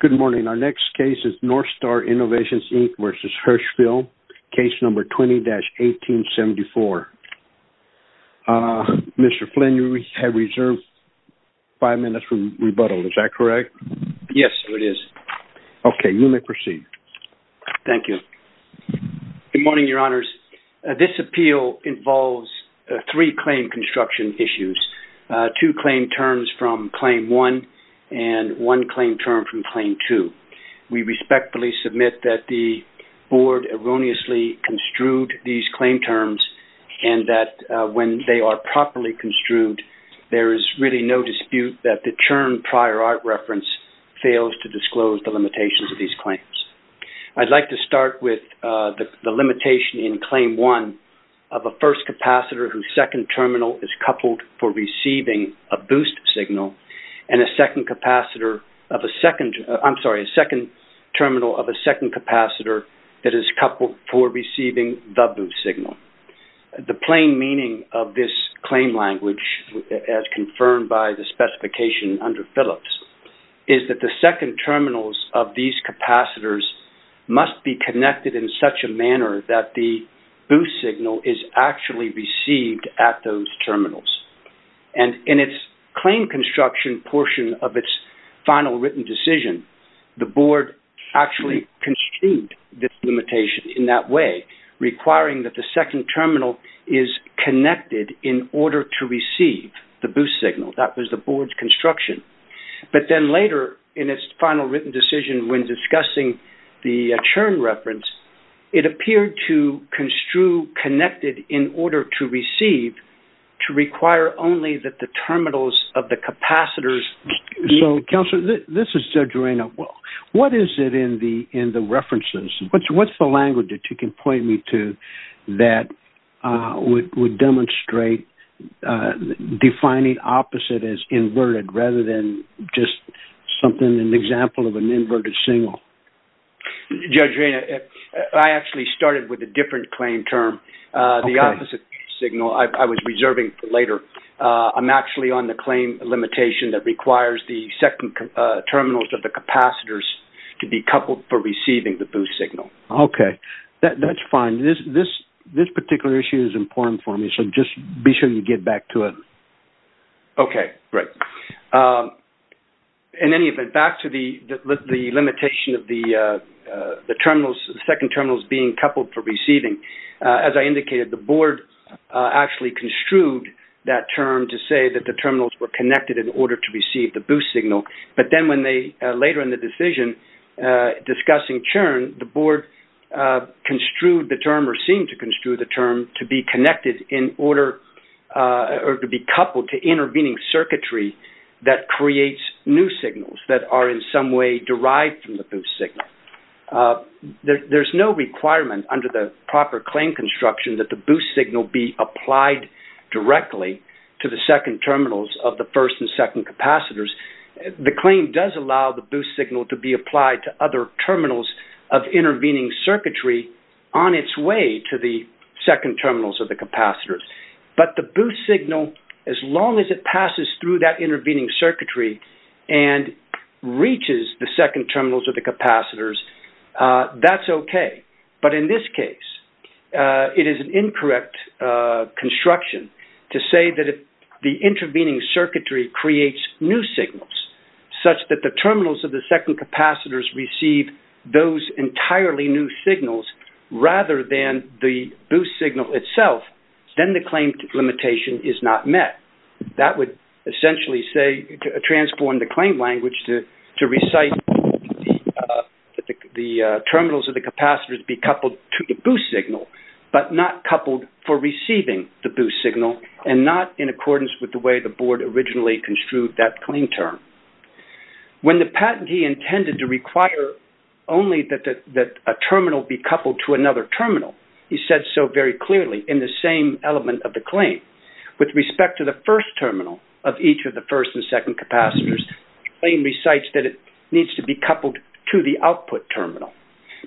Good morning. Our next case is North Star Innovations, Inc. v. Hirshfeld, Case No. 20-1874. Mr. Flynn, you have reserved five minutes for rebuttal. Is that correct? Yes, it is. Okay. You may proceed. Thank you. Good morning, Your Honors. This appeal involves three claim construction issues, two claim terms from Claim 1 and one claim term from Claim 2. We respectfully submit that the Board erroneously construed these claim terms and that when they are properly construed, there is really no dispute that the term prior art reference fails to disclose the limitations of these claims. I'd like to start with the limitation in Claim 1 of a first capacitor whose second terminal is coupled for receiving a boost signal and a second terminal of a second capacitor that is coupled for receiving the boost signal. The plain meaning of this claim language, as confirmed by the specification under Phillips, is that the second terminals of these capacitors must be connected in such a manner that the boost signal is actually received at those terminals. And in its claim construction portion of its final written decision, the Board actually construed this limitation in that way, requiring that the second terminal is connected in order to receive the boost signal. That was the Board's construction. But then later in its final written decision when discussing the churn reference, it appeared to construe connected in order to receive to require only that the terminals of the capacitors meet. So, Counselor, this is Judge Arena. What is it in the references? What's the language that you can point me to that would demonstrate defining opposite as inverted rather than just something, an example of an inverted signal? Judge Arena, I actually started with a different claim term. The opposite signal I was reserving for later. I'm actually on the claim limitation that requires the second terminals of the capacitors to be coupled for receiving the boost signal. Okay. That's fine. This particular issue is important for me, so just be sure you get back to it. Okay. Great. In any event, back to the limitation of the terminals, the second terminals being coupled for receiving. As I indicated, the Board actually construed that term to say that the terminals were connected in order to receive the boost signal. But then later in the decision discussing churn, the Board construed the term or seemed to construe the term to be connected in order or to be coupled to intervening circuitry that creates new signals that are in some way derived from the boost signal. There's no requirement under the proper claim construction that the boost signal be applied directly to the second terminals of the first and second capacitors. The claim does allow the boost signal to be applied to other terminals of intervening circuitry on its way to the second terminals of the capacitors. But the boost signal, as long as it passes through that intervening circuitry and reaches the second terminals of the capacitors, that's okay. But in this case, it is an incorrect construction to say that the intervening circuitry creates new signals such that the terminals of the second capacitors receive those entirely new signals rather than the boost signal itself, then the claim limitation is not met. That would essentially transform the claim language to recite the terminals of the capacitors be coupled to the boost signal, but not coupled for receiving the boost signal and not in accordance with the way the Board originally construed that claim term. When the patentee intended to require only that a terminal be coupled to another terminal, he said so very clearly in the same element of the claim. With respect to the first terminal of each of the first and second capacitors, the claim recites that it needs to be coupled to the output terminal.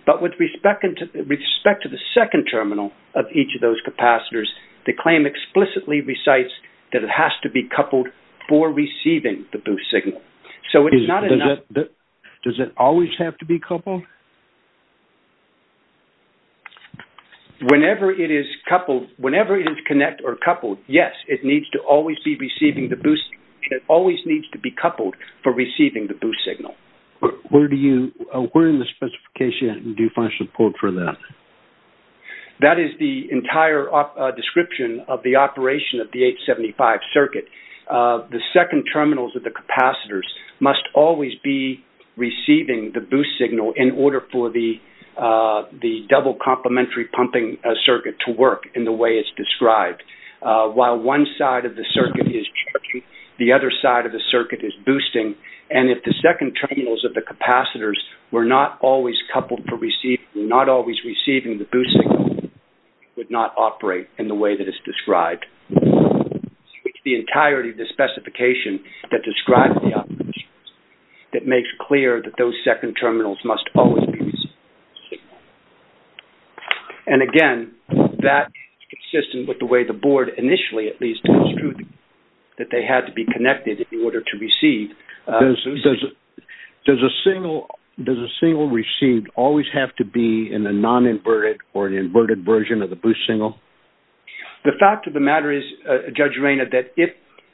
But with respect to the second terminal of each of those capacitors, the claim explicitly recites that it has to be coupled for receiving the boost signal. Does it always have to be coupled? Whenever it is coupled, yes, it always needs to be coupled for receiving the boost signal. Where in the specification do you find support for that? That is the entire description of the operation of the 875 circuit. The second terminals of the capacitors must always be receiving the boost signal in order for the double complementary pumping circuit to work in the way it's described. While one side of the circuit is charging, the other side of the circuit is boosting. And if the second terminals of the capacitors were not always coupled for receiving, not always receiving the boost signal, it would not operate in the way that it's described. It's the entirety of the specification that describes the operations, that makes clear that those second terminals must always be receiving the boost signal. And again, that is consistent with the way the board initially at least construed that they had to be connected in order to receive the boost signal. Does a signal received always have to be in a non-inverted or an inverted version of the boost signal? The fact of the matter is, Judge Reina, that if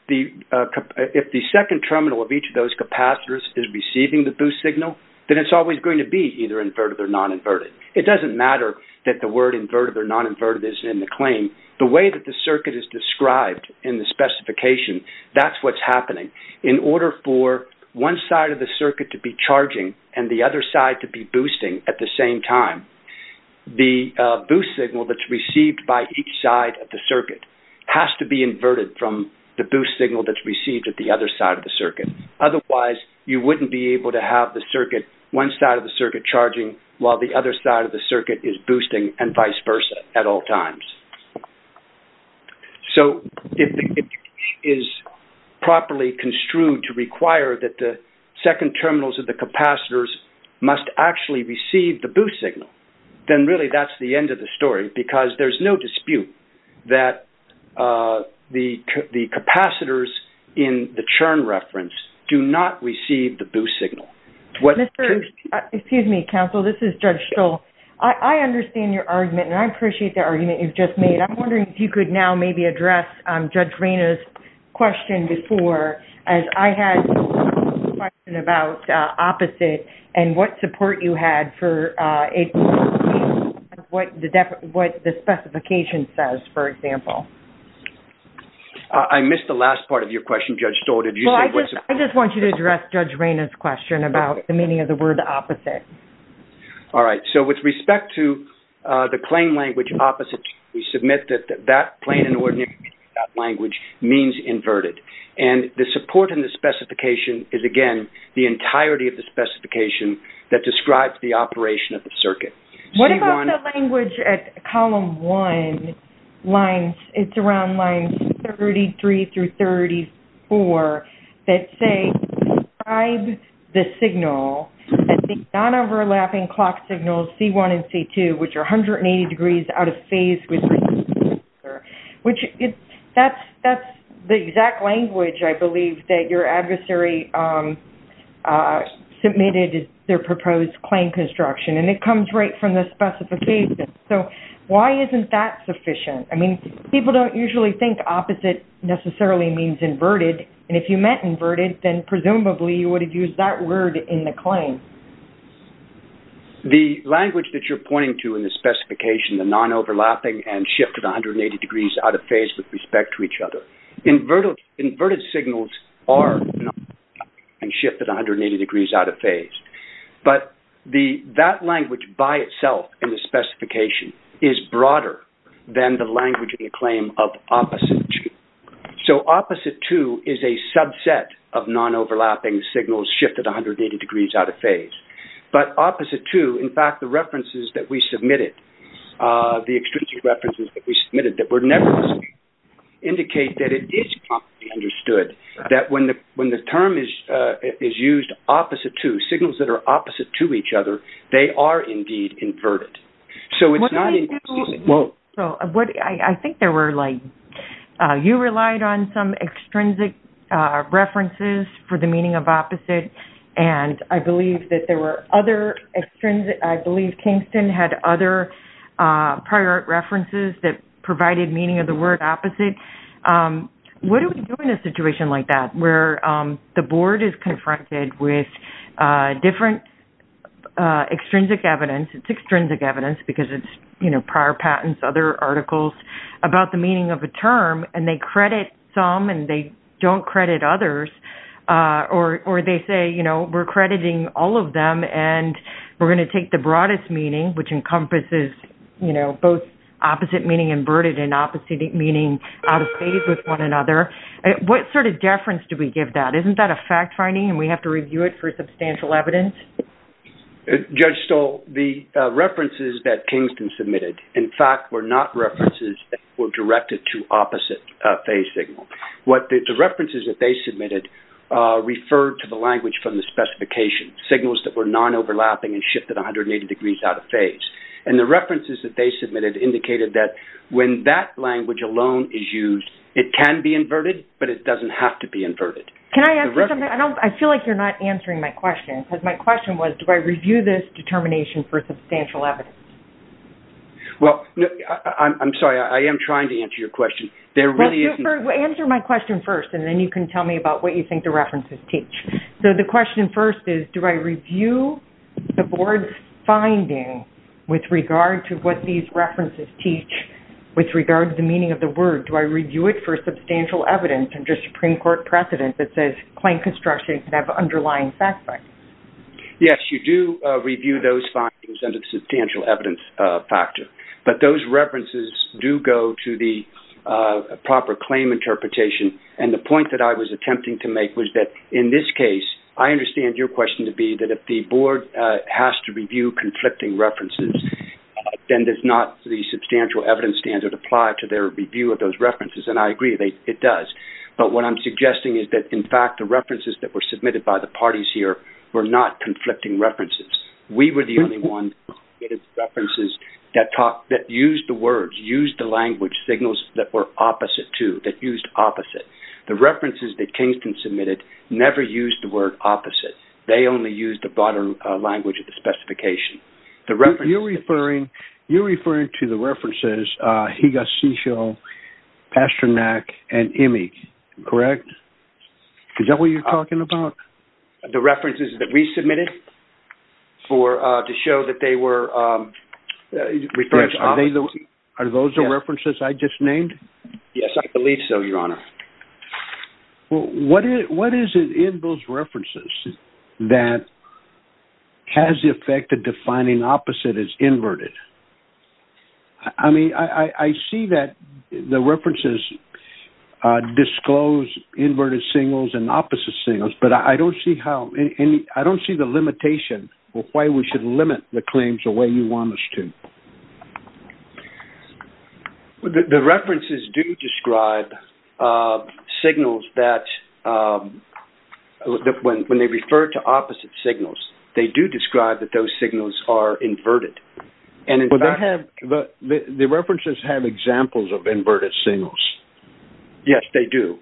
the second terminal of each of those capacitors is receiving the boost signal, then it's always going to be either inverted or non-inverted. It doesn't matter that the word inverted or non-inverted is in the claim. The way that the circuit is described in the specification, that's what's happening. In order for one side of the circuit to be charging and the other side to be boosting at the same time, the boost signal that's received by each side of the circuit has to be inverted from the boost signal that's received at the other side of the circuit. Otherwise, you wouldn't be able to have the circuit, one side of the circuit charging while the other side of the circuit is boosting and vice versa at all times. So, if it is properly construed to require that the second terminals of the capacitors must actually receive the boost signal, then really that's the end of the story because there's no dispute that the capacitors in the churn reference do not receive the boost signal. Excuse me, counsel. This is Judge Stoll. I understand your argument and I appreciate the argument you've just made. I'm wondering if you could now maybe address Judge Reyna's question before as I had a question about opposite and what support you had for what the specification says, for example. I missed the last part of your question, Judge Stoll. I just want you to address Judge Reyna's question about the meaning of the word opposite. All right. So, with respect to the claim language opposite, we submit that that plain and ordinary language means inverted. And the support in the specification is, again, the entirety of the specification that describes the operation of the circuit. What about the language at column one, it's around lines 33 through 34, that say, describe the signal as the non-overlapping clock signals C1 and C2, which are 180 degrees out of phase with each other. That's the exact language, I believe, that your adversary submitted their proposed claim construction. And it comes right from the specification. So, why isn't that sufficient? I mean, people don't usually think opposite necessarily means inverted. And if you meant inverted, then presumably you would have used that word in the claim. The language that you're pointing to in the specification, the non-overlapping and shifted 180 degrees out of phase with respect to each other, inverted signals are non-overlapping and shifted 180 degrees out of phase. But that language by itself in the specification is broader than the language in the claim of opposite 2. So, opposite 2 is a subset of non-overlapping signals shifted 180 degrees out of phase. But opposite 2, in fact, the references that we submitted, the extrinsic references that we submitted that were never used, indicate that it is properly understood that when the term is used opposite 2, signals that are opposite to each other, they are indeed inverted. So, it's not... I think there were like... You relied on some extrinsic references for the meaning of opposite. And I believe that there were other extrinsic... I believe Kingston had other prior references that provided meaning of the word opposite. What do we do in a situation like that, where the board is confronted with different extrinsic evidence? It's extrinsic evidence because it's prior patents, other articles about the meaning of a term, and they credit some and they don't credit others. Or they say, you know, we're crediting all of them, and we're going to take the broadest meaning, which encompasses, you know, both opposite meaning inverted and opposite meaning out of phase with one another. What sort of deference do we give that? Isn't that a fact-finding and we have to review it for substantial evidence? Judge Stoll, the references that Kingston submitted, in fact, were not references that were directed to opposite phase signal. The references that they submitted referred to the language from the specification, signals that were non-overlapping and shifted 180 degrees out of phase. And the references that they submitted indicated that when that language alone is used, it can be inverted, but it doesn't have to be inverted. Can I ask you something? I feel like you're not answering my question, because my question was, do I review this determination for substantial evidence? Well, I'm sorry. I am trying to answer your question. Answer my question first, and then you can tell me about what you think the references teach. So the question first is, do I review the board's finding with regard to what these references teach, with regard to the meaning of the word? Do I review it for substantial evidence under Supreme Court precedent that says claim construction can have underlying fact-finding? Yes, you do review those findings under the substantial evidence factor. But those references do go to the proper claim interpretation. And the point that I was attempting to make was that, in this case, I understand your question to be that if the board has to review conflicting references, then does not the substantial evidence standard apply to their review of those references? And I agree, it does. But what I'm suggesting is that, in fact, the references that were submitted by the parties here were not conflicting references. We were the only ones who submitted references that used the words, used the language, signals that were opposite to, that used opposite. The references that Kingston submitted never used the word opposite. They only used the broader language of the specification. You're referring to the references Higashisho, Pasternak, and Immig, correct? Is that what you're talking about? The references that we submitted to show that they were referring to opposite? Are those the references I just named? Yes, I believe so, Your Honor. Well, what is it in those references that has the effect of defining opposite as inverted? I mean, I see that the references disclose inverted signals and opposite signals, but I don't see the limitation of why we should limit the claims the way you want us to. The references do describe signals that, when they refer to opposite signals, they do describe that those signals are inverted. The references have examples of inverted signals. Yes, they do.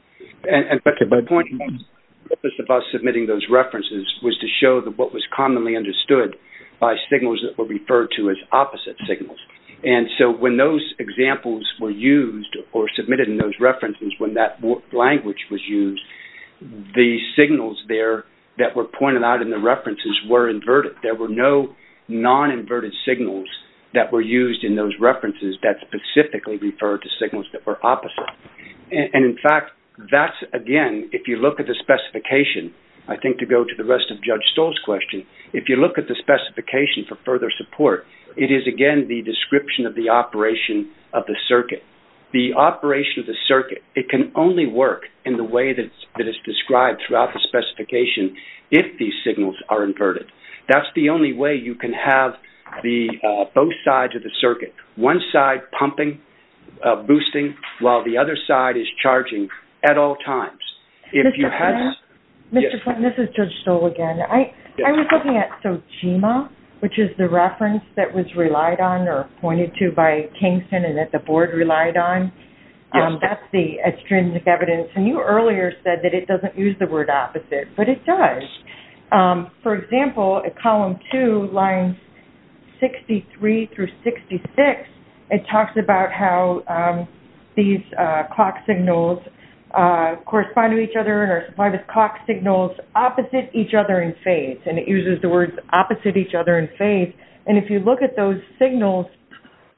My point about submitting those references was to show what was commonly understood by signals that were referred to as opposite signals. And so when those examples were used or submitted in those references, when that language was used, the signals there that were pointed out in the references were inverted. There were no non-inverted signals that were used in those references that specifically referred to signals that were opposite. And, in fact, that's, again, if you look at the specification, I think to go to the rest of Judge Stoll's question, if you look at the specification for further support, it is, again, the description of the operation of the circuit. The operation of the circuit, it can only work in the way that it's described throughout the specification if these signals are inverted. One side pumping, boosting, while the other side is charging at all times. Mr. Flint, this is Judge Stoll again. I was looking at SOGEMA, which is the reference that was relied on or pointed to by Kingston and that the board relied on. That's the extrinsic evidence. And you earlier said that it doesn't use the word opposite, but it does. For example, at column two, lines 63 through 66, it talks about how these clock signals correspond to each other and are supplied as clock signals opposite each other in phase. And it uses the words opposite each other in phase. And if you look at those signals,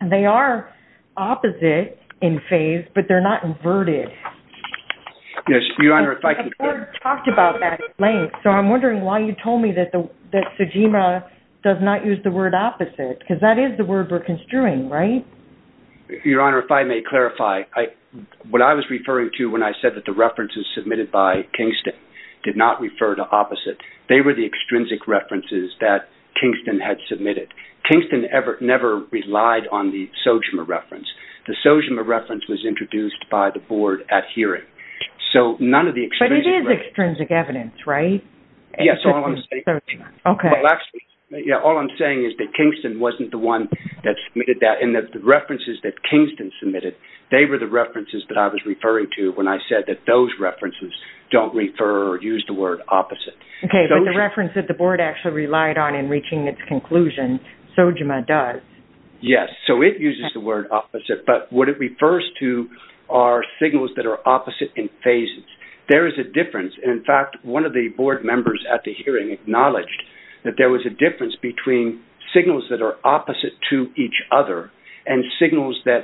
they are opposite in phase, but they're not inverted. The board talked about that at length, so I'm wondering why you told me that SOGEMA does not use the word opposite, because that is the word we're construing, right? Your Honor, if I may clarify, what I was referring to when I said that the references submitted by Kingston did not refer to opposite, they were the extrinsic references that Kingston had submitted. Kingston never relied on the SOGEMA reference. The SOGEMA reference was introduced by the board at hearing. But it is extrinsic evidence, right? Yes, all I'm saying is that Kingston wasn't the one that submitted that, and the references that Kingston submitted, they were the references that I was referring to when I said that those references don't refer or use the word opposite. Okay, but the reference that the board actually relied on in reaching its conclusion, SOGEMA does. Yes, so it uses the word opposite, but what it refers to are signals that are opposite in phases. There is a difference. In fact, one of the board members at the hearing acknowledged that there was a difference between signals that are opposite to each other and signals that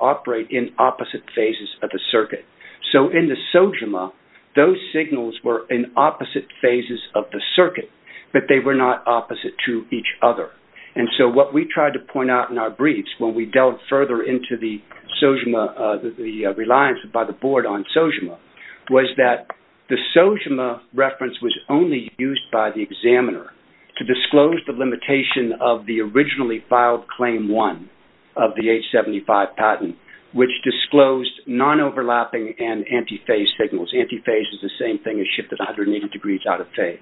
operate in opposite phases of the circuit. So in the SOGEMA, those signals were in opposite phases of the circuit, but they were not opposite to each other. And so what we tried to point out in our briefs when we delved further into the SOGEMA, the reliance by the board on SOGEMA, was that the SOGEMA reference was only used by the examiner to disclose the limitation of the originally filed Claim 1 of the H-75 patent, which disclosed non-overlapping and antiphase signals. Antiphase is the same thing as shifted 180 degrees out of phase.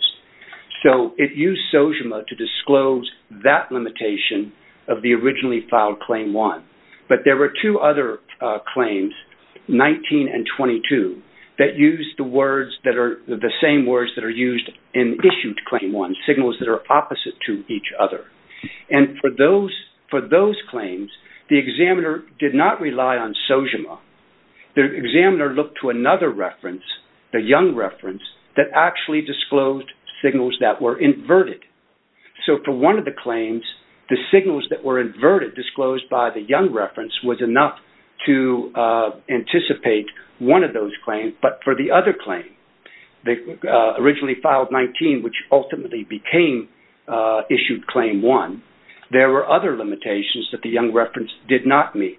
So it used SOGEMA to disclose that limitation of the originally filed Claim 1. But there were two other claims, 19 and 22, that used the same words that are used in issued Claim 1, signals that are opposite to each other. And for those claims, the examiner did not rely on SOGEMA. The examiner looked to another reference, the Young reference, that actually disclosed signals that were inverted. So for one of the claims, the signals that were inverted, disclosed by the Young reference, was enough to anticipate one of those claims. But for the other claim, the originally filed 19, which ultimately became issued Claim 1, there were other limitations that the Young reference did not meet.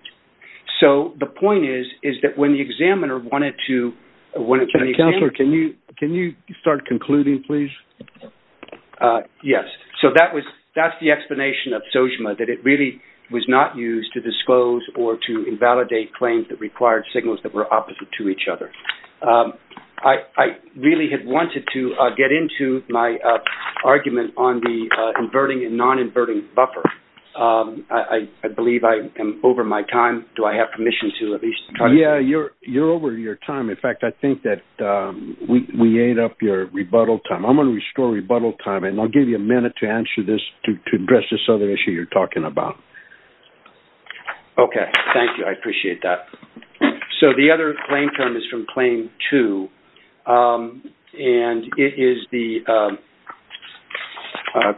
So the point is that when the examiner wanted to... Counselor, can you start concluding, please? Yes. So that's the explanation of SOGEMA, that it really was not used to disclose or to invalidate claims that required signals that were opposite to each other. I really had wanted to get into my argument on the inverting and non-inverting buffer. I believe I am over my time. Do I have permission to at least... Yes, you're over your time. In fact, I think that we ate up your rebuttal time. I'm going to restore rebuttal time, and I'll give you a minute to answer this to address this other issue you're talking about. Okay. Thank you. I appreciate that. So the other claim term is from Claim 2, and it is the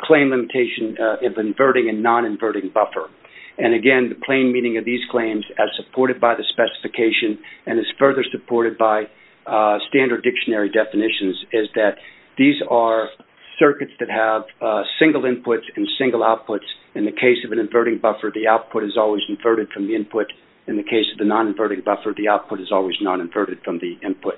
claim limitation of inverting and non-inverting buffer. And, again, the plain meaning of these claims, as supported by the specification and as further supported by standard dictionary definitions, is that these are circuits that have single inputs and single outputs. In the case of an inverting buffer, the output is always inverted from the input. In the case of the non-inverting buffer, the output is always non-inverted from the input.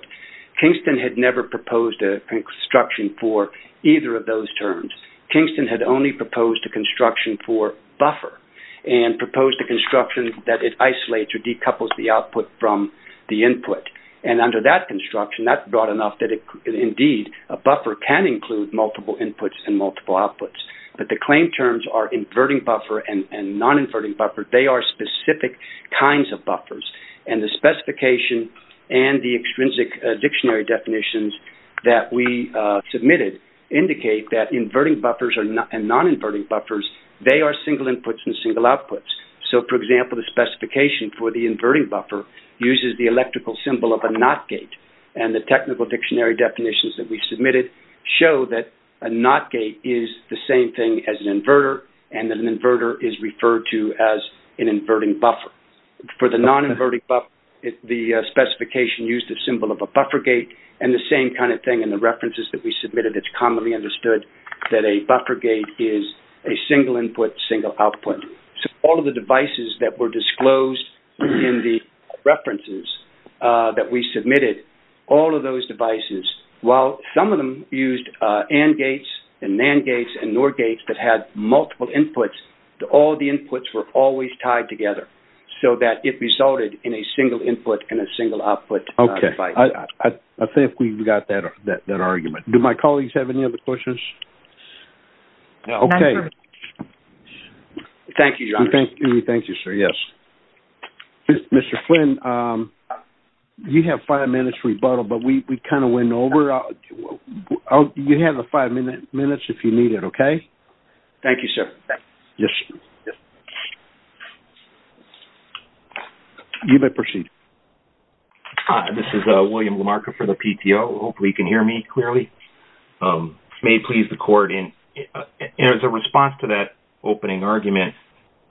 Kingston had never proposed a construction for either of those terms. Kingston had only proposed a construction for buffer and proposed a construction that it isolates or decouples the output from the input. And under that construction, that's broad enough that, indeed, a buffer can include multiple inputs and multiple outputs. But the claim terms are inverting buffer and non-inverting buffer. They are specific kinds of buffers. And the specification and the extrinsic dictionary definitions that we submitted indicate that inverting buffers and non-inverting buffers, they are single inputs and single outputs. So, for example, the specification for the inverting buffer uses the electrical symbol of a NOT gate. And the technical dictionary definitions that we submitted show that a NOT gate is the same thing as an inverter and that an inverter is referred to as an inverting buffer. For the non-inverting buffer, the specification used the symbol of a buffer gate and the same kind of thing in the references that we submitted. It's commonly understood that a buffer gate is a single input, single output. So all of the devices that were disclosed in the references that we submitted, all of those devices, while some of them used AND gates and NAND gates and NOR gates that had multiple inputs, all the inputs were always tied together so that it resulted in a single input and a single output device. Okay. I think we've got that argument. Do my colleagues have any other questions? No. Okay. Thank you, John. Thank you, sir. Yes. Mr. Flynn, you have five minutes to rebuttal, but we kind of went over. You have the five minutes if you need it, okay? Thank you, sir. Yes. You may proceed. Hi. This is William LaMarca for the PTO. Hopefully you can hear me clearly. May it please the Court, in response to that opening argument,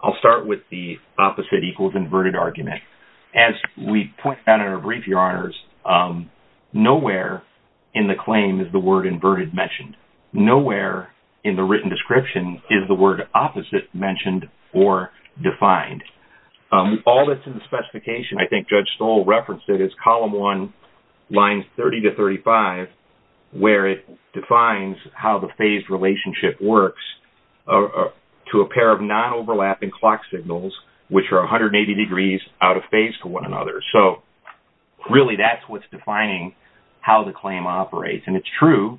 I'll start with the opposite equals inverted argument. As we point out in our brief, Your Honors, nowhere in the claim is the word inverted mentioned. Nowhere in the written description is the word opposite mentioned or defined. All that's in the specification, I think Judge Stoll referenced it, is Column 1, Lines 30 to 35, where it defines how the phased relationship works to a pair of non-overlapping clock signals, which are 180 degrees out of phase to one another. So really that's what's defining how the claim operates. And it's true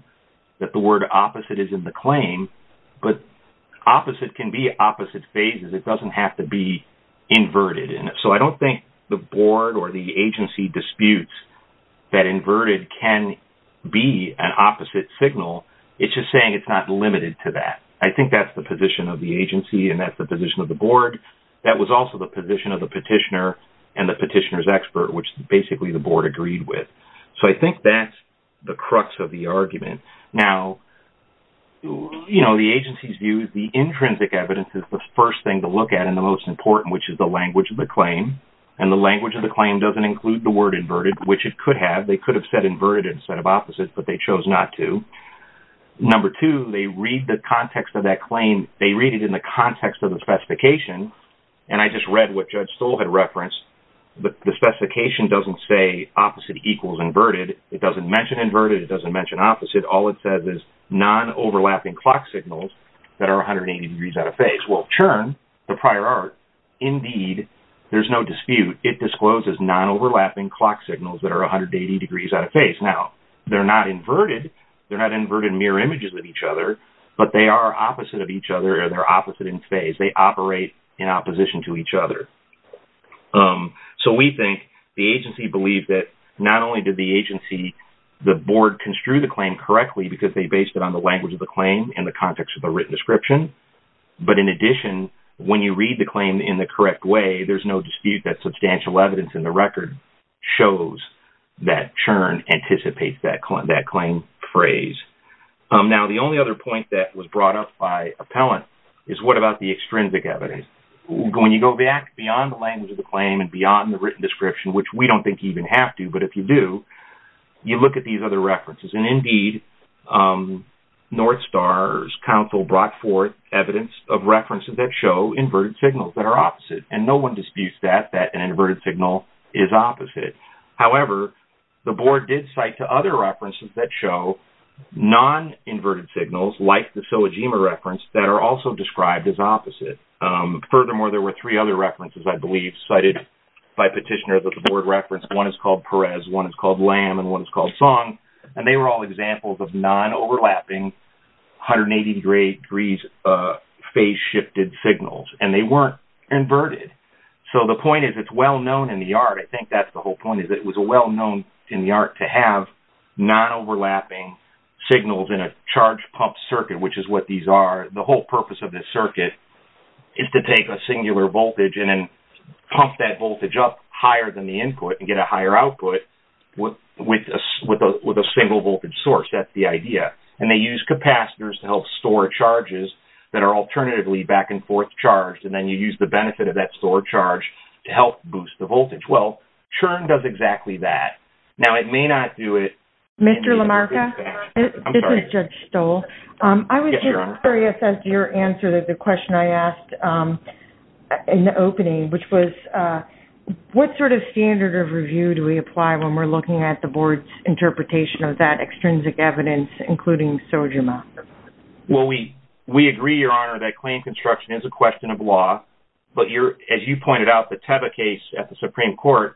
that the word opposite is in the claim, but opposite can be opposite phases. It doesn't have to be inverted. So I don't think the Board or the agency disputes that inverted can be an opposite signal. It's just saying it's not limited to that. I think that's the position of the agency and that's the position of the Board. That was also the position of the petitioner and the petitioner's expert, which basically the Board agreed with. So I think that's the crux of the argument. Now, you know, the agency's view is the intrinsic evidence is the first thing to look at and the most important, which is the language of the claim. And the language of the claim doesn't include the word inverted, which it could have. They could have said inverted instead of opposite, but they chose not to. Number two, they read the context of that claim, they read it in the context of the specification, and I just read what Judge Stoll had referenced, but the specification doesn't say opposite equals inverted. It doesn't mention inverted. It doesn't mention opposite. All it says is non-overlapping clock signals that are 180 degrees out of phase. Well, CHIRN, the prior art, indeed, there's no dispute. It discloses non-overlapping clock signals that are 180 degrees out of phase. Now, they're not inverted. They're not inverted in mirror images with each other, but they are opposite of each other or they're opposite in phase. They operate in opposition to each other. So we think the agency believed that not only did the agency, the Board construe the claim correctly because they based it on the language of the claim in the context of the written description, but in addition, when you read the claim in the correct way, there's no dispute that substantial evidence in the record shows that CHIRN anticipates that claim phrase. Now, the only other point that was brought up by appellant is what about the extrinsic evidence? When you go back beyond the language of the claim and beyond the written description, which we don't think you even have to, but if you do, you look at these other references, and indeed, North Star's counsel brought forth evidence of references that show inverted signals that are opposite, and no one disputes that, that an inverted signal is opposite. However, the Board did cite to other references that show non-inverted signals, like the phylogema reference, that are also described as opposite. Furthermore, there were three other references, I believe, cited by petitioners that the Board referenced. One is called Perez, one is called Lamb, and one is called Song, and they were all examples of non-overlapping 180 degrees phase-shifted signals, and they weren't inverted. So the point is it's well-known in the art, I think that's the whole point, is it was well-known in the art to have non-overlapping signals in a charge-pumped circuit, which is what these are. The whole purpose of this circuit is to take a singular voltage and then pump that voltage up higher than the input and get a higher output with a single voltage source. That's the idea. And they use capacitors to help store charges that are alternatively back-and-forth charged, and then you use the benefit of that stored charge to help boost the voltage. Well, CHIRN does exactly that. Now, it may not do it. Mr. LaMarca, this is Judge Stoll. I was just curious as to your answer to the question I asked in the opening, which was what sort of standard of review do we apply when we're looking at the board's interpretation of that extrinsic evidence, including SOGMA? Well, we agree, Your Honor, that claim construction is a question of law, but as you pointed out, the Tebbe case at the Supreme Court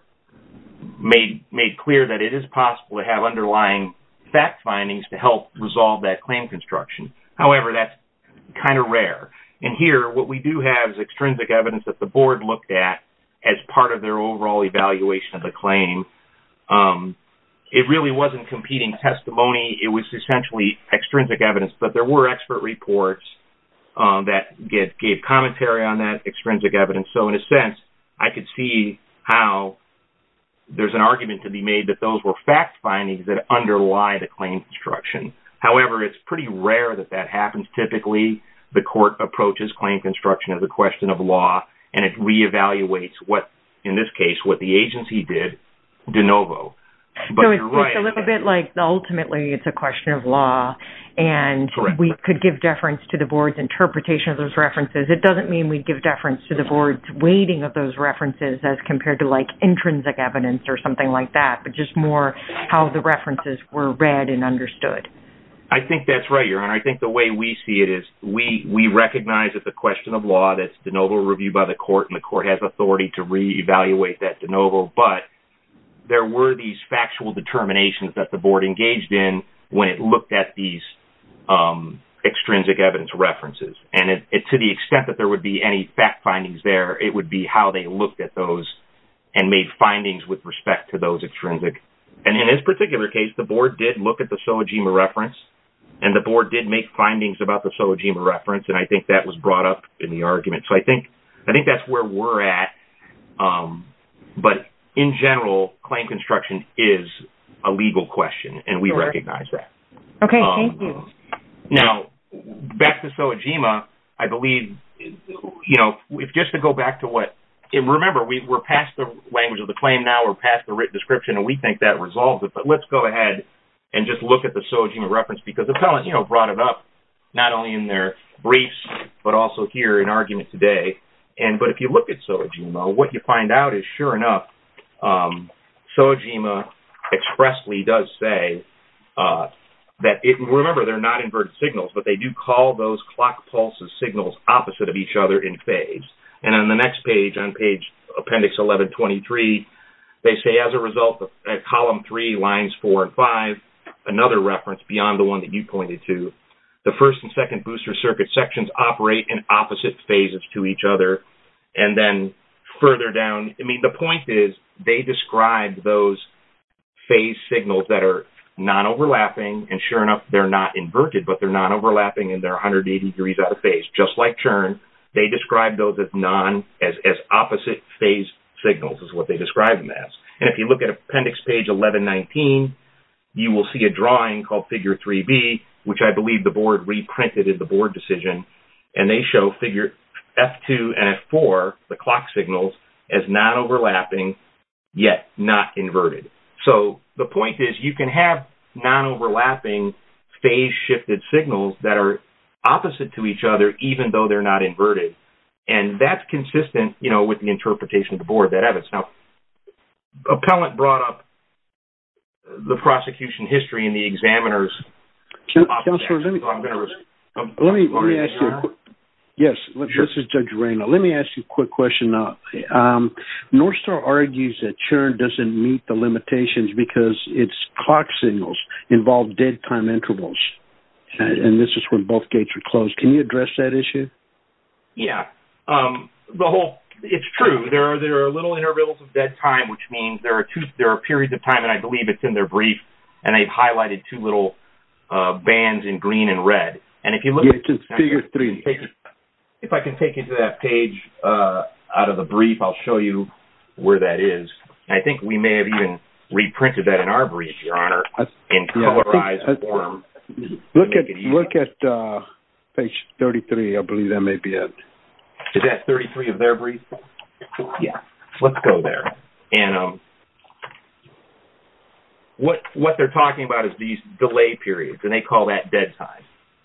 made clear that it is possible to have underlying fact findings to help resolve that claim construction. However, that's kind of rare. And here, what we do have is extrinsic evidence that the board looked at as part of their overall evaluation of the claim. It really wasn't competing testimony. It was essentially extrinsic evidence, but there were expert reports that gave commentary on that extrinsic evidence. So in a sense, I could see how there's an argument to be made that those were fact findings that underlie the claim construction. However, it's pretty rare that that happens. Typically, the court approaches claim construction as a question of law, and it re-evaluates what, in this case, what the agency did de novo. So it's a little bit like ultimately it's a question of law, and we could give deference to the board's interpretation of those references. It doesn't mean we'd give deference to the board's weighting of those references as compared to, like, intrinsic evidence or something like that, but just more how the references were read and understood. I think that's right, Your Honor. I think the way we see it is we recognize it's a question of law, that's de novo reviewed by the court, and the court has authority to re-evaluate that de novo, but there were these factual determinations that the board engaged in when it looked at these extrinsic evidence references. And to the extent that there would be any fact findings there, it would be how they looked at those and made findings with respect to those extrinsic. And in this particular case, the board did look at the SOA-GEMA reference, and the board did make findings about the SOA-GEMA reference, and I think that was brought up in the argument. So I think that's where we're at. But in general, claim construction is a legal question, and we recognize that. Okay, thank you. Now, back to SOA-GEMA, I believe, you know, just to go back to what... Remember, we're past the language of the claim now, we're past the written description, and we think that resolves it, but let's go ahead and just look at the SOA-GEMA reference, because Appellant, you know, brought it up, not only in their briefs, but also here in argument today. And...but if you look at SOA-GEMA, what you find out is, sure enough, SOA-GEMA expressly does say that it... Remember, they're not inverted signals, but they do call those clock pulses signals opposite of each other in phase. And on the next page, on page appendix 1123, they say, as a result of column 3, lines 4 and 5, another reference beyond the one that you pointed to, the first and second booster circuit sections operate in opposite phases to each other, and then further down... I mean, the point is, they describe those phase signals that are non-overlapping, and sure enough, they're not inverted, but they're non-overlapping, and they're 180 degrees out of phase, just like churn. They describe those as non...as opposite phase signals, is what they describe them as. And if you look at appendix page 1119, you will see a drawing called figure 3B, which I believe the board reprinted in the board decision, and they show figure F2 and F4, the clock signals, as non-overlapping, yet not inverted. So the point is, you can have non-overlapping phase-shifted signals that are opposite to each other, even though they're not inverted, and that's consistent, you know, with the interpretation of the board that evidence. Now, appellant brought up the prosecution history and the examiner's... Counselor, let me... Let me ask you... Yes, this is Judge Reina. Let me ask you a quick question. Northstar argues that churn doesn't meet the limitations because its clock signals involve dead time intervals, and this is when both gates are closed. Can you address that issue? Yeah. The whole... It's true. There are little intervals of dead time, which means there are periods of time, and I believe it's in their brief, and they've highlighted two little bands in green and red. And if you look at... If I can take you to that page out of the brief, I'll show you where that is. I think we may have even reprinted that in our brief, Your Honor, in colorized form. Look at page 33. I believe that may be it. Is that 33 of their brief? Yeah. Let's go there. And what they're talking about is these delay periods, and they call that dead time.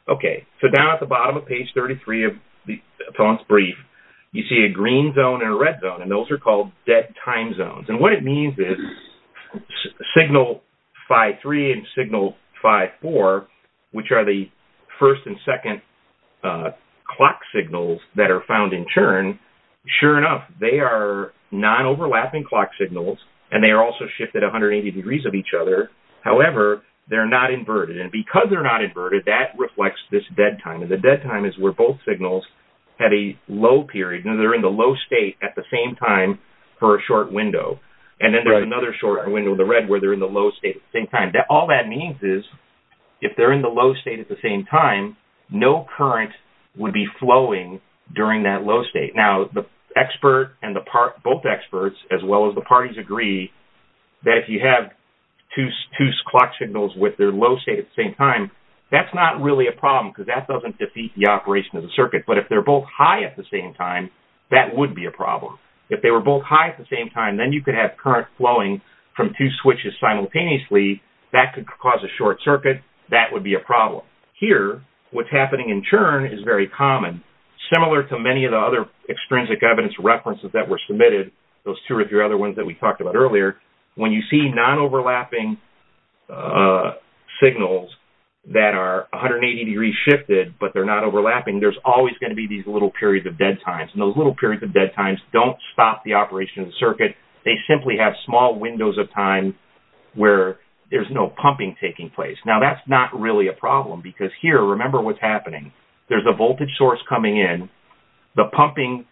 Okay. So down at the bottom of page 33 of the appellant's brief, you see a green zone and a red zone, and those are called dead time zones. And what it means is signal 5-3 and signal 5-4, which are the first and second clock signals that are found in churn, sure enough, they are non-overlapping clock signals, and they are also shifted 180 degrees of each other. However, they're not inverted, and because they're not inverted, that reflects this dead time. And the dead time is where both signals have a low period, and they're in the low state at the same time for a short window. And then there's another short window, the red, where they're in the low state at the same time. All that means is if they're in the low state at the same time, no current would be flowing during that low state. Now, the expert and the part, both experts, as well as the parties agree that if you have two clock signals with their low state at the same time, that's not really a problem because that doesn't defeat the operation of the circuit. But if they're both high at the same time, that would be a problem. If they were both high at the same time, then you could have current flowing from two switches simultaneously. That could cause a short circuit. That would be a problem. Here, what's happening in churn is very common. Similar to many of the other extrinsic evidence references that were submitted, those two or three other ones that we talked about earlier, when you see non-overlapping signals that are 180 degrees shifted, but they're not overlapping, there's always going to be these little periods of dead times. And those little periods of dead times don't stop the operation of the circuit. They simply have small windows of time where there's no pumping taking place. Now, that's not really a problem because here, remember what's happening. There's a voltage source coming in. The pumping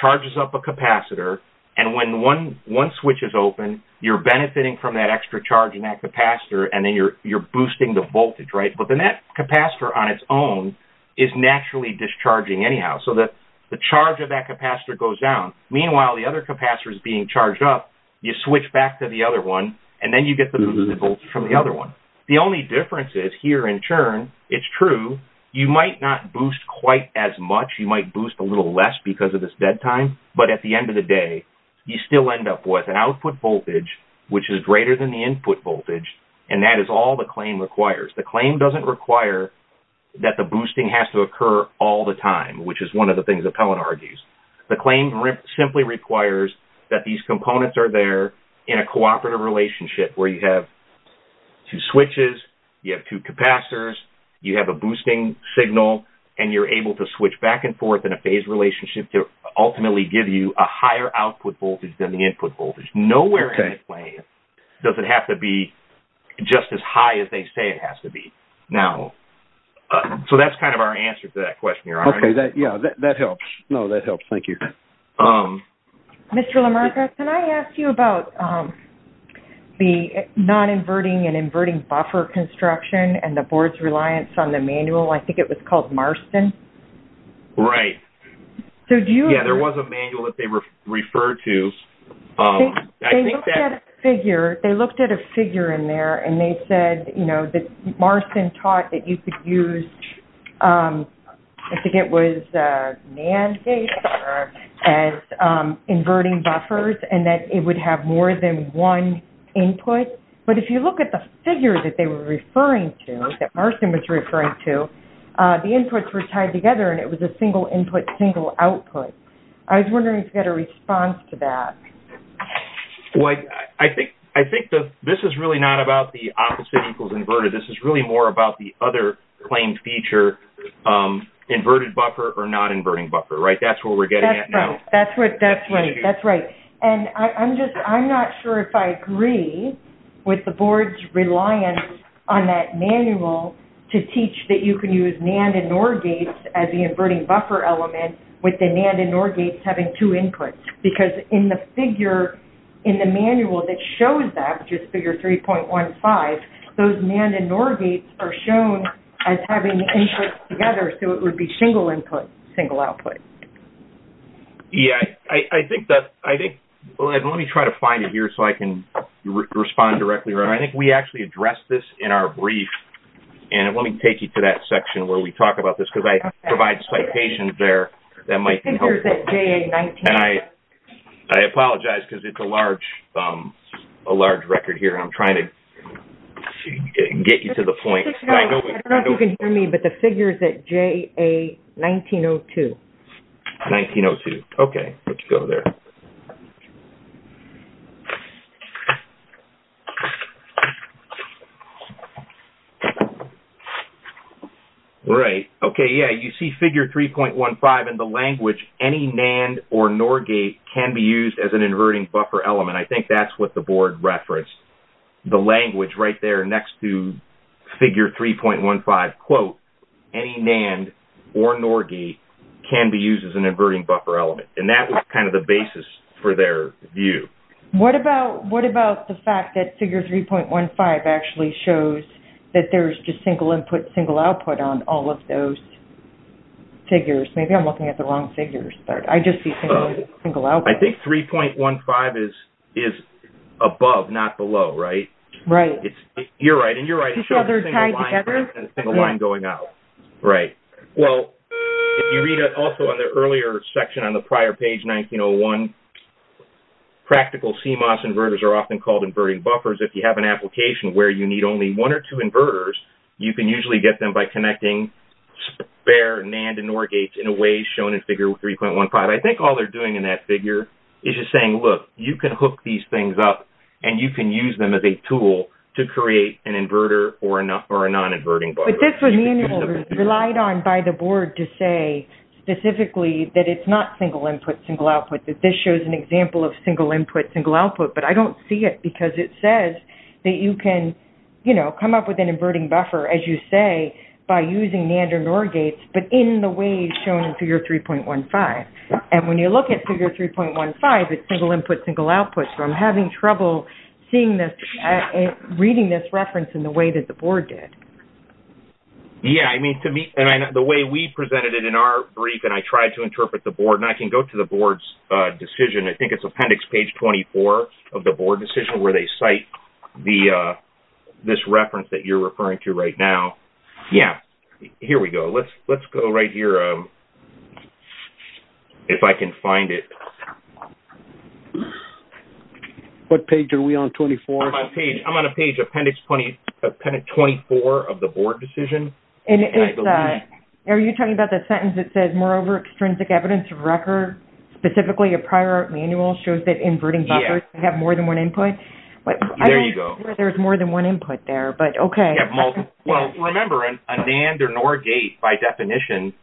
charges up a capacitor. And when one switch is open, you're benefiting from that extra charge in that capacitor, and then you're boosting the voltage, right? But then that capacitor on its own is naturally discharging anyhow. So the charge of that capacitor goes down. Meanwhile, the other capacitor is being charged up. You switch back to the other one, and then you get the boosted voltage from the other one. The only difference is, here in churn, it's true. You might not boost quite as much. You might boost a little less because of this dead time. But at the end of the day, you still end up with an output voltage which is greater than the input voltage, and that is all the claim requires. The claim doesn't require that the boosting has to occur all the time, which is one of the things Appellant argues. The claim simply requires that these components are there in a cooperative relationship where you have two switches, you have two capacitors, you have a boosting signal, and you're able to switch back and forth in a phased relationship to ultimately give you a higher output voltage than the input voltage. Nowhere in the claim does it have to be just as high as they say it has to be. Now, so that's kind of our answer to that question, Your Honor. Okay, yeah, that helps. No, that helps. Thank you. Mr. LaMarca, can I ask you about the non-inverting and inverting buffer construction and the board's reliance on the manual? I think it was called Marston. Right. Yeah, there was a manual that they referred to. They looked at a figure. There was a figure in there, and they said that Marston taught that you could use, I think it was as inverting buffers, and that it would have more than one input, but if you look at the figure that they were referring to, that Marston was referring to, the inputs were tied together, and it was a single input, single output. I was wondering if you had a response to that. Well, I think this is really not about the opposite equals inverted. This is really more about the other claimed feature, inverted buffer or non-inverting buffer, right? That's where we're getting at now. That's right. And I'm just, I'm not sure if I agree with the board's reliance on that manual to teach that you can use NAND and NOR gates as the inverting buffer element with the NAND and NOR gates having two inputs, but in the figure in the manual that shows that, just figure 3.15, those NAND and NOR gates are shown as having inputs together, so it would be single input, single output. Yeah, I think that, I think, let me try to find it here so I can respond directly. I think we actually addressed this in our brief, and let me take you to that section where we talk about this, because I provide citations there that might be helpful. And I apologize because it's a large record here, and I'm trying to get you to the point. I don't know if you can hear me, but the figure is at JA1902. 1902. Okay. Let's go there. Right. Okay, yeah, you see figure 3.15 and the language any NAND or NOR gate can be used as an inverting buffer element. I think that's what the board referenced. The language right there next to figure 3.15 quote, any NAND or NOR gate can be used as an inverting buffer element. And that was kind of the basis for their view. What about the fact that figure 3.15 actually shows that there's just single input, single output on all of those figures. Maybe I'm looking at the wrong figures, but I just see single input, single output. I think 3.15 is above, not below, right? Right. You're right, and you're right, it shows a single line going in and a single line going out. Right. Well, if you read also on the earlier section on the prior page, 1901, practical CMOS inverters are often called inverting buffers. If you have an application where you need only one or two connecting bare NAND and NOR gates in a way shown in figure 3.15, I think all they're doing in that figure is just saying, look, you can hook these things up, and you can use them as a tool to create an inverter or a non-inverting buffer. But this was relied on by the board to say specifically that it's not single input, single output, that this shows an example of single input, single output, but I don't see it because it says that you can, you know, come up with an inverting buffer, as you say, by using NAND or NOR gates, but in the way shown in figure 3.15. And when you look at figure 3.15, it's single input, single output, so I'm having trouble seeing this, reading this reference in the way that the board did. Yeah, I mean, the way we presented it in our brief, and I tried to interpret the board, and I can go to the board's decision, I think it's appendix page 24 of the board decision where they cite the, this reference that you're referring to right now. Yeah, here we go. Let's go right here if I can find it. What page are we on, 24? I'm on page, I'm on a page appendix 24 of the board decision. Are you talking about the sentence that says, moreover, extrinsic evidence of record, specifically a prior manual shows that inverting buffers have more than one input? There you go. I don't see where there's more than one input there, but okay. Remember, a NAND or NOR gate, by definition,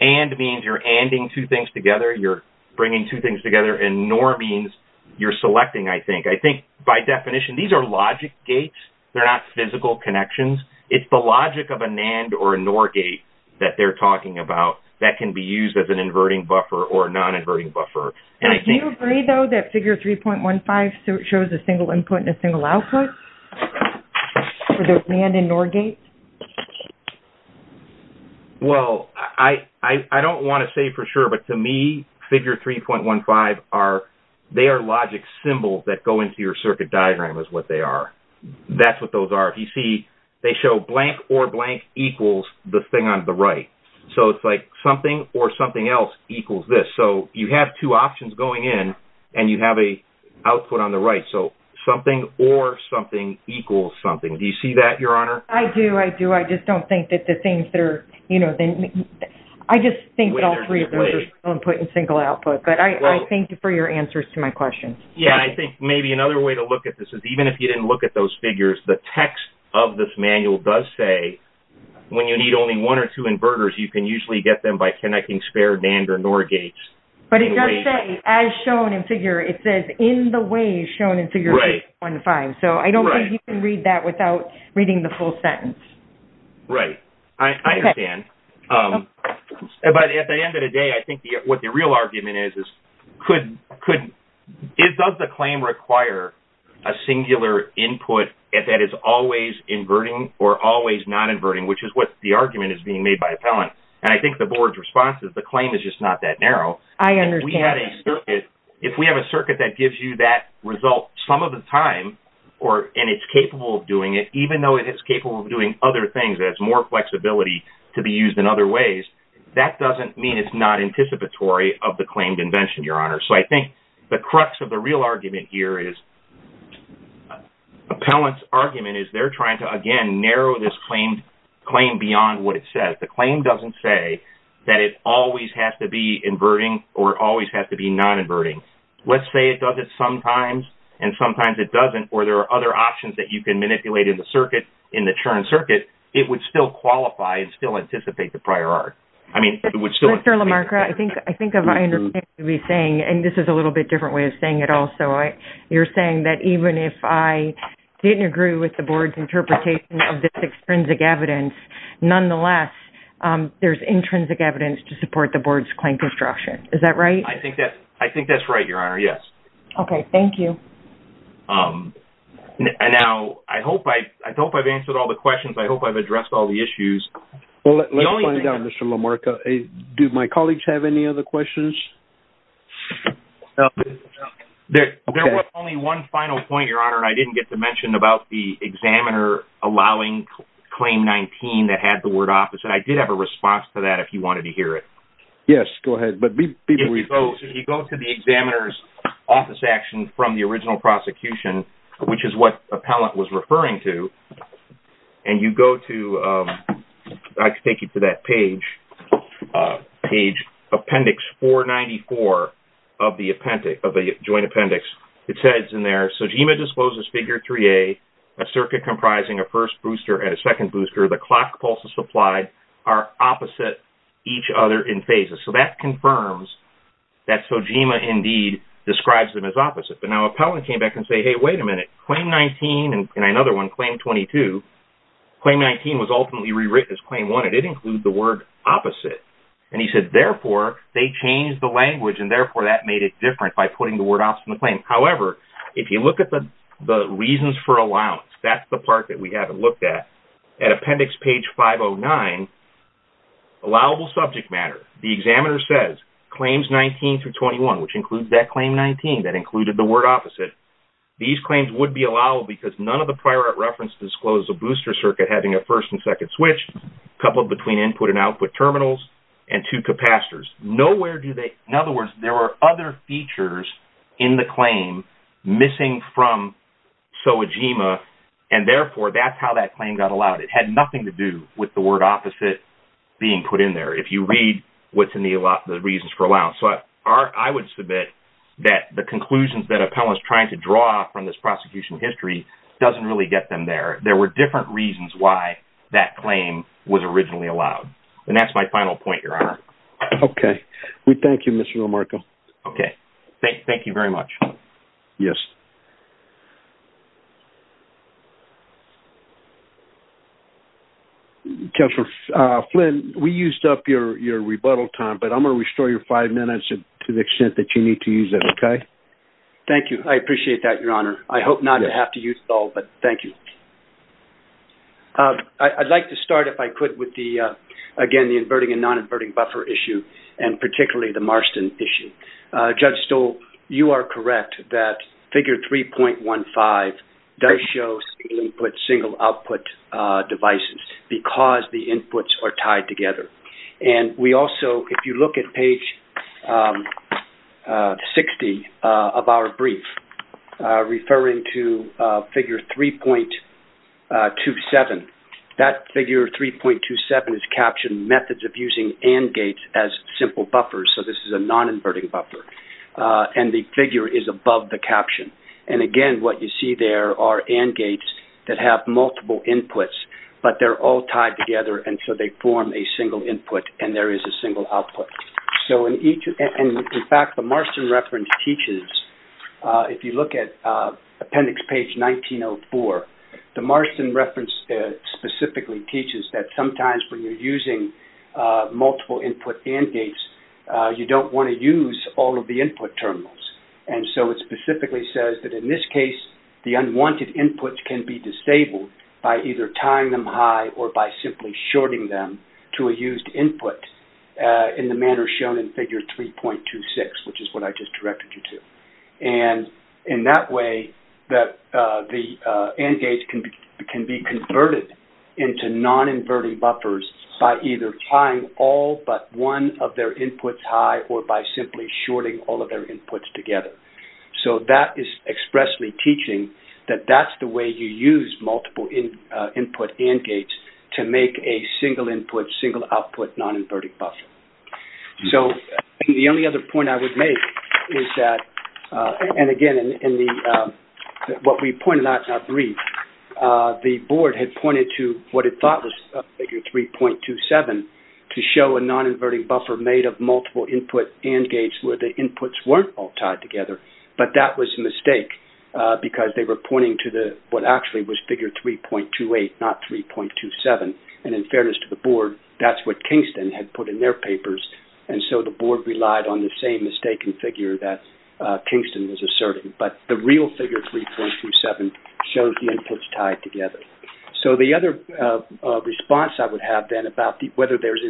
AND means you're ANDing two things together, you're bringing two things together, and NOR means you're selecting, I think. I think, by definition, these are logic gates, they're not physical connections. It's the logic of a NAND or a NOR gate that they're talking about that can be used as an inverting buffer or a non-inverting buffer. Do you agree, though, that figure 3.15 shows a single input and a single output for the NAND and NOR gates? Well, I don't want to say for sure, but to me, figure 3.15 are logic symbols that go into your circuit diagram is what they are. That's what those are. If you see, they show blank or blank equals the thing on the right. It's like something or something else equals this. So, you have two options going in, and you have a output on the right. So, something or something equals something. Do you see that, Your Honor? I do, I do. I just don't think that the things that are, you know, I just think that all three of those are single input and single output. But I thank you for your answers to my question. Yeah, I think maybe another way to look at this is, even if you didn't look at those figures, the text of this manual does say, when you need only one or two inverters, you can usually get them by connecting SPARE, NAND, or NOR gates. But it does say, as shown in figure, it says, in the ways shown in figure 3.15. So, I don't think you can read that without reading the full sentence. Right. I understand. But at the end of the day, I think what the real argument is, is could, does the claim require a singular input that is always inverting or always not inverting, which is what the argument is being made by appellant. And I think the board's response is the claim is just not that narrow. I understand. If we have a circuit that gives you that result some of the time, and it's capable of doing it, even though it is capable of doing other things, it has more flexibility to be used in other ways, that doesn't mean it's not anticipatory of the claimed invention, Your Honor. So, I think the crux of the real argument here is, appellant's argument is they're trying to, again, narrow this claim beyond what it says. The claim doesn't say that it always has to be inverting or it always has to be non-inverting. Let's say it does it sometimes, and sometimes it doesn't, or there are other options that you can manipulate in the churn circuit, it would still qualify and still anticipate the prior art. Mr. LaMarca, I think I understand what you're saying, and this is a little bit different way of saying it also. You're saying that even if I didn't agree with the Board's interpretation of this extrinsic evidence, nonetheless, there's intrinsic evidence to support the Board's claim construction. Is that right? I think that's right, Your Honor, yes. Okay, thank you. Now, I hope I've answered all the questions, I hope I've addressed all the issues. Let's find out, Mr. LaMarca, do my colleagues have any other questions? There was only one final point, Your Honor, and I didn't get to mention about the examiner allowing Claim 19 that had the word office, and I did have a response to that if you wanted to hear it. Yes, go ahead. If you go to the examiner's office action from the original prosecution, which is what appellant was referring to, and you go to that page, appendix 494 of the Joint Appendix, it says in there, SOGIMA discloses Figure 3A, a circuit comprising a first booster and a second booster, the clock pulses applied are opposite each other in phases. So that confirms that SOGIMA, indeed, describes them as opposite. But now appellant came back and said, hey, wait a minute, Claim 19 and another one, Claim 22, Claim 19 was ultimately rewritten as Claim 1, and it included the word opposite. And he said, therefore, they changed the language, and therefore that made it different by putting the word opposite in the claim. However, if you look at the reasons for allowance, that's the part that we haven't looked at. At appendix page 509, allowable subject matter, the examiner says, Claims 19 through 21, which includes that Claim 19 that included the word opposite, these claims would be allowable because none of the prior reference discloses a booster circuit having a first and second switch coupled between input and output terminals and two capacitors. In other words, there were other features in the claim missing from SOGIMA, and therefore that's how that claim got allowed. It had nothing to do with the word opposite being put in there, if you read what's in the reasons for allowance. I would submit that the conclusions that appellant's trying to draw from this prosecution history doesn't really get them there. There were different reasons why that claim was allowed. That's my final point, Your Honor. Okay. We thank you, Mr. Romarco. Okay. Thank you very much. Yes. Counselor Flynn, we used up your rebuttal time, but I'm going to restore your five minutes to the extent that you need to use it, okay? Thank you. I appreciate that, Your Honor. I hope not to have to use it all, but thank you. I'd like to start, if I could, with the inverting and non-inverting buffer issue, and particularly the Marston issue. Judge Stoll, you are correct that figure 3.15 does show single input, single output devices because the inputs are tied together. We also, if you look at page 60 of our brief referring to figure 3.27, that figure 3.27 is captioned methods of using AND gates as simple buffers. This is a non-inverting buffer. The figure is above the caption. Again, what you see there are AND gates that have multiple inputs, but they're all tied together, and so they form a single input, and there is a single output. In fact, the Marston reference teaches if you look at appendix page 1904, the Marston reference specifically teaches that sometimes when you're using multiple input AND gates, you don't want to use all of the input terminals. It specifically says that in this case, the unwanted inputs can be disabled by either tying them high or by simply shorting them to a used input in the manner shown in figure 3.26, which is what I just directed you to. In that way, that the AND gates can be converted into non-inverting buffers by either tying all but one of their inputs high or by simply shorting all of their inputs together. That is expressly teaching that that's the way you use multiple input AND gates to make a single input, single output non-inverting buffer. The only other point I would make is that and again in what we pointed out in our brief, the board had pointed to what it thought was figure 3.27 to show a non-inverting buffer made of multiple input AND gates where the inputs weren't all tied together, but that was a mistake because they were pointing to what actually was figure 3.28, not 3.27. In fairness to the board, that's what Kingston had put in their papers and so the board relied on the same mistaken figure that Kingston was asserting, but the real figure 3.27 shows the inputs tied together. The other response I would have then about whether there's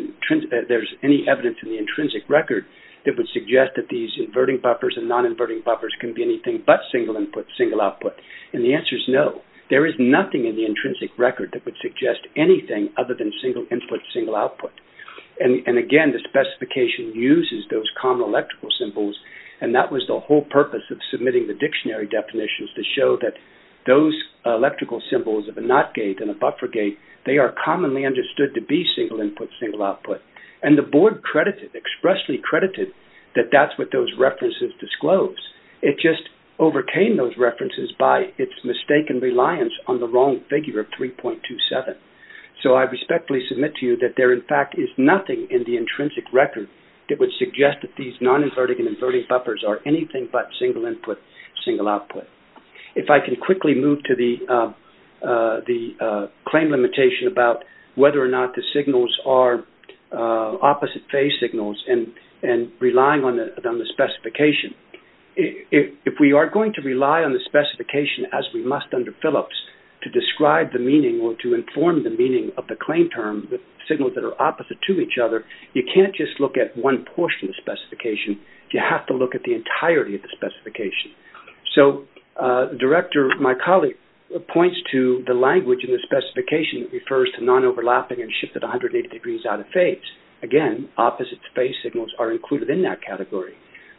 any evidence in the intrinsic record that would suggest that these inverting buffers and non-inverting buffers can be anything but single input, single output and the answer is no. There is nothing in the intrinsic record that would suggest anything other than single input, single output. Again, the board relied on the same mistaken figure 3.27. mistaken figure 3.27. The board relied on the same mistaken figure 3.27. It just overcame those references by its mistaken reliance on the wrong figure 3.27. So I respectfully submit to you would suggest that these non-inverting buffers and non-inverting buffers and non-inverting and inverting buffers are anything but single input, single output. If I can quickly move to the claim limitation about whether or not the signals are opposite phase signals and relying on the specification. If we are going to rely on the specification as we must under Phillips to describe the meaning or to inform the meaning of the claim term, the signals that are opposite to each other, you have to look at the entirety of the specification. So director, my colleague, points to the language in the specification that refers to non-overlapping and shifted 180 degrees out of phase. Again, opposite phase signals are included in that category.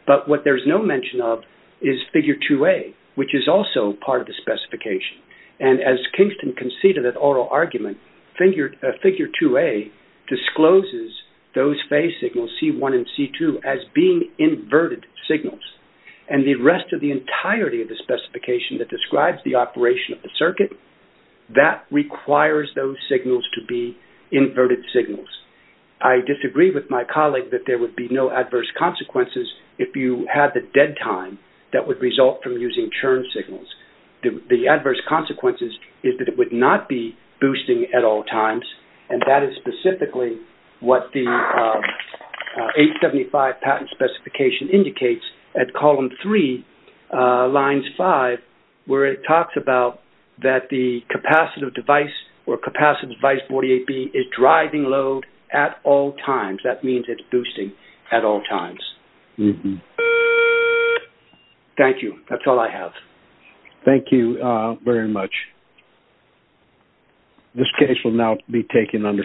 But what there's no mention of is figure 2A, which is also part of the specification. And as Kingston conceded that oral argument, figure 2A discloses those phase signals, C1 and C2, as being inverted signals. And the rest of the entirety of the specification that describes the operation of the circuit, that requires those signals to be inverted signals. I disagree with my colleague that there would be no adverse consequences if you had the dead time that would result from using churn signals. The adverse consequences is that it would not be boosting at all times, and that is specifically what the 875 patent specification indicates at column 3 lines 5 where it talks about that the capacitive device or capacitive device 48B is driving load at all times. That means it's boosting at all times. Thank you. That's all I have. Thank you very much. This case will now be taken under submission.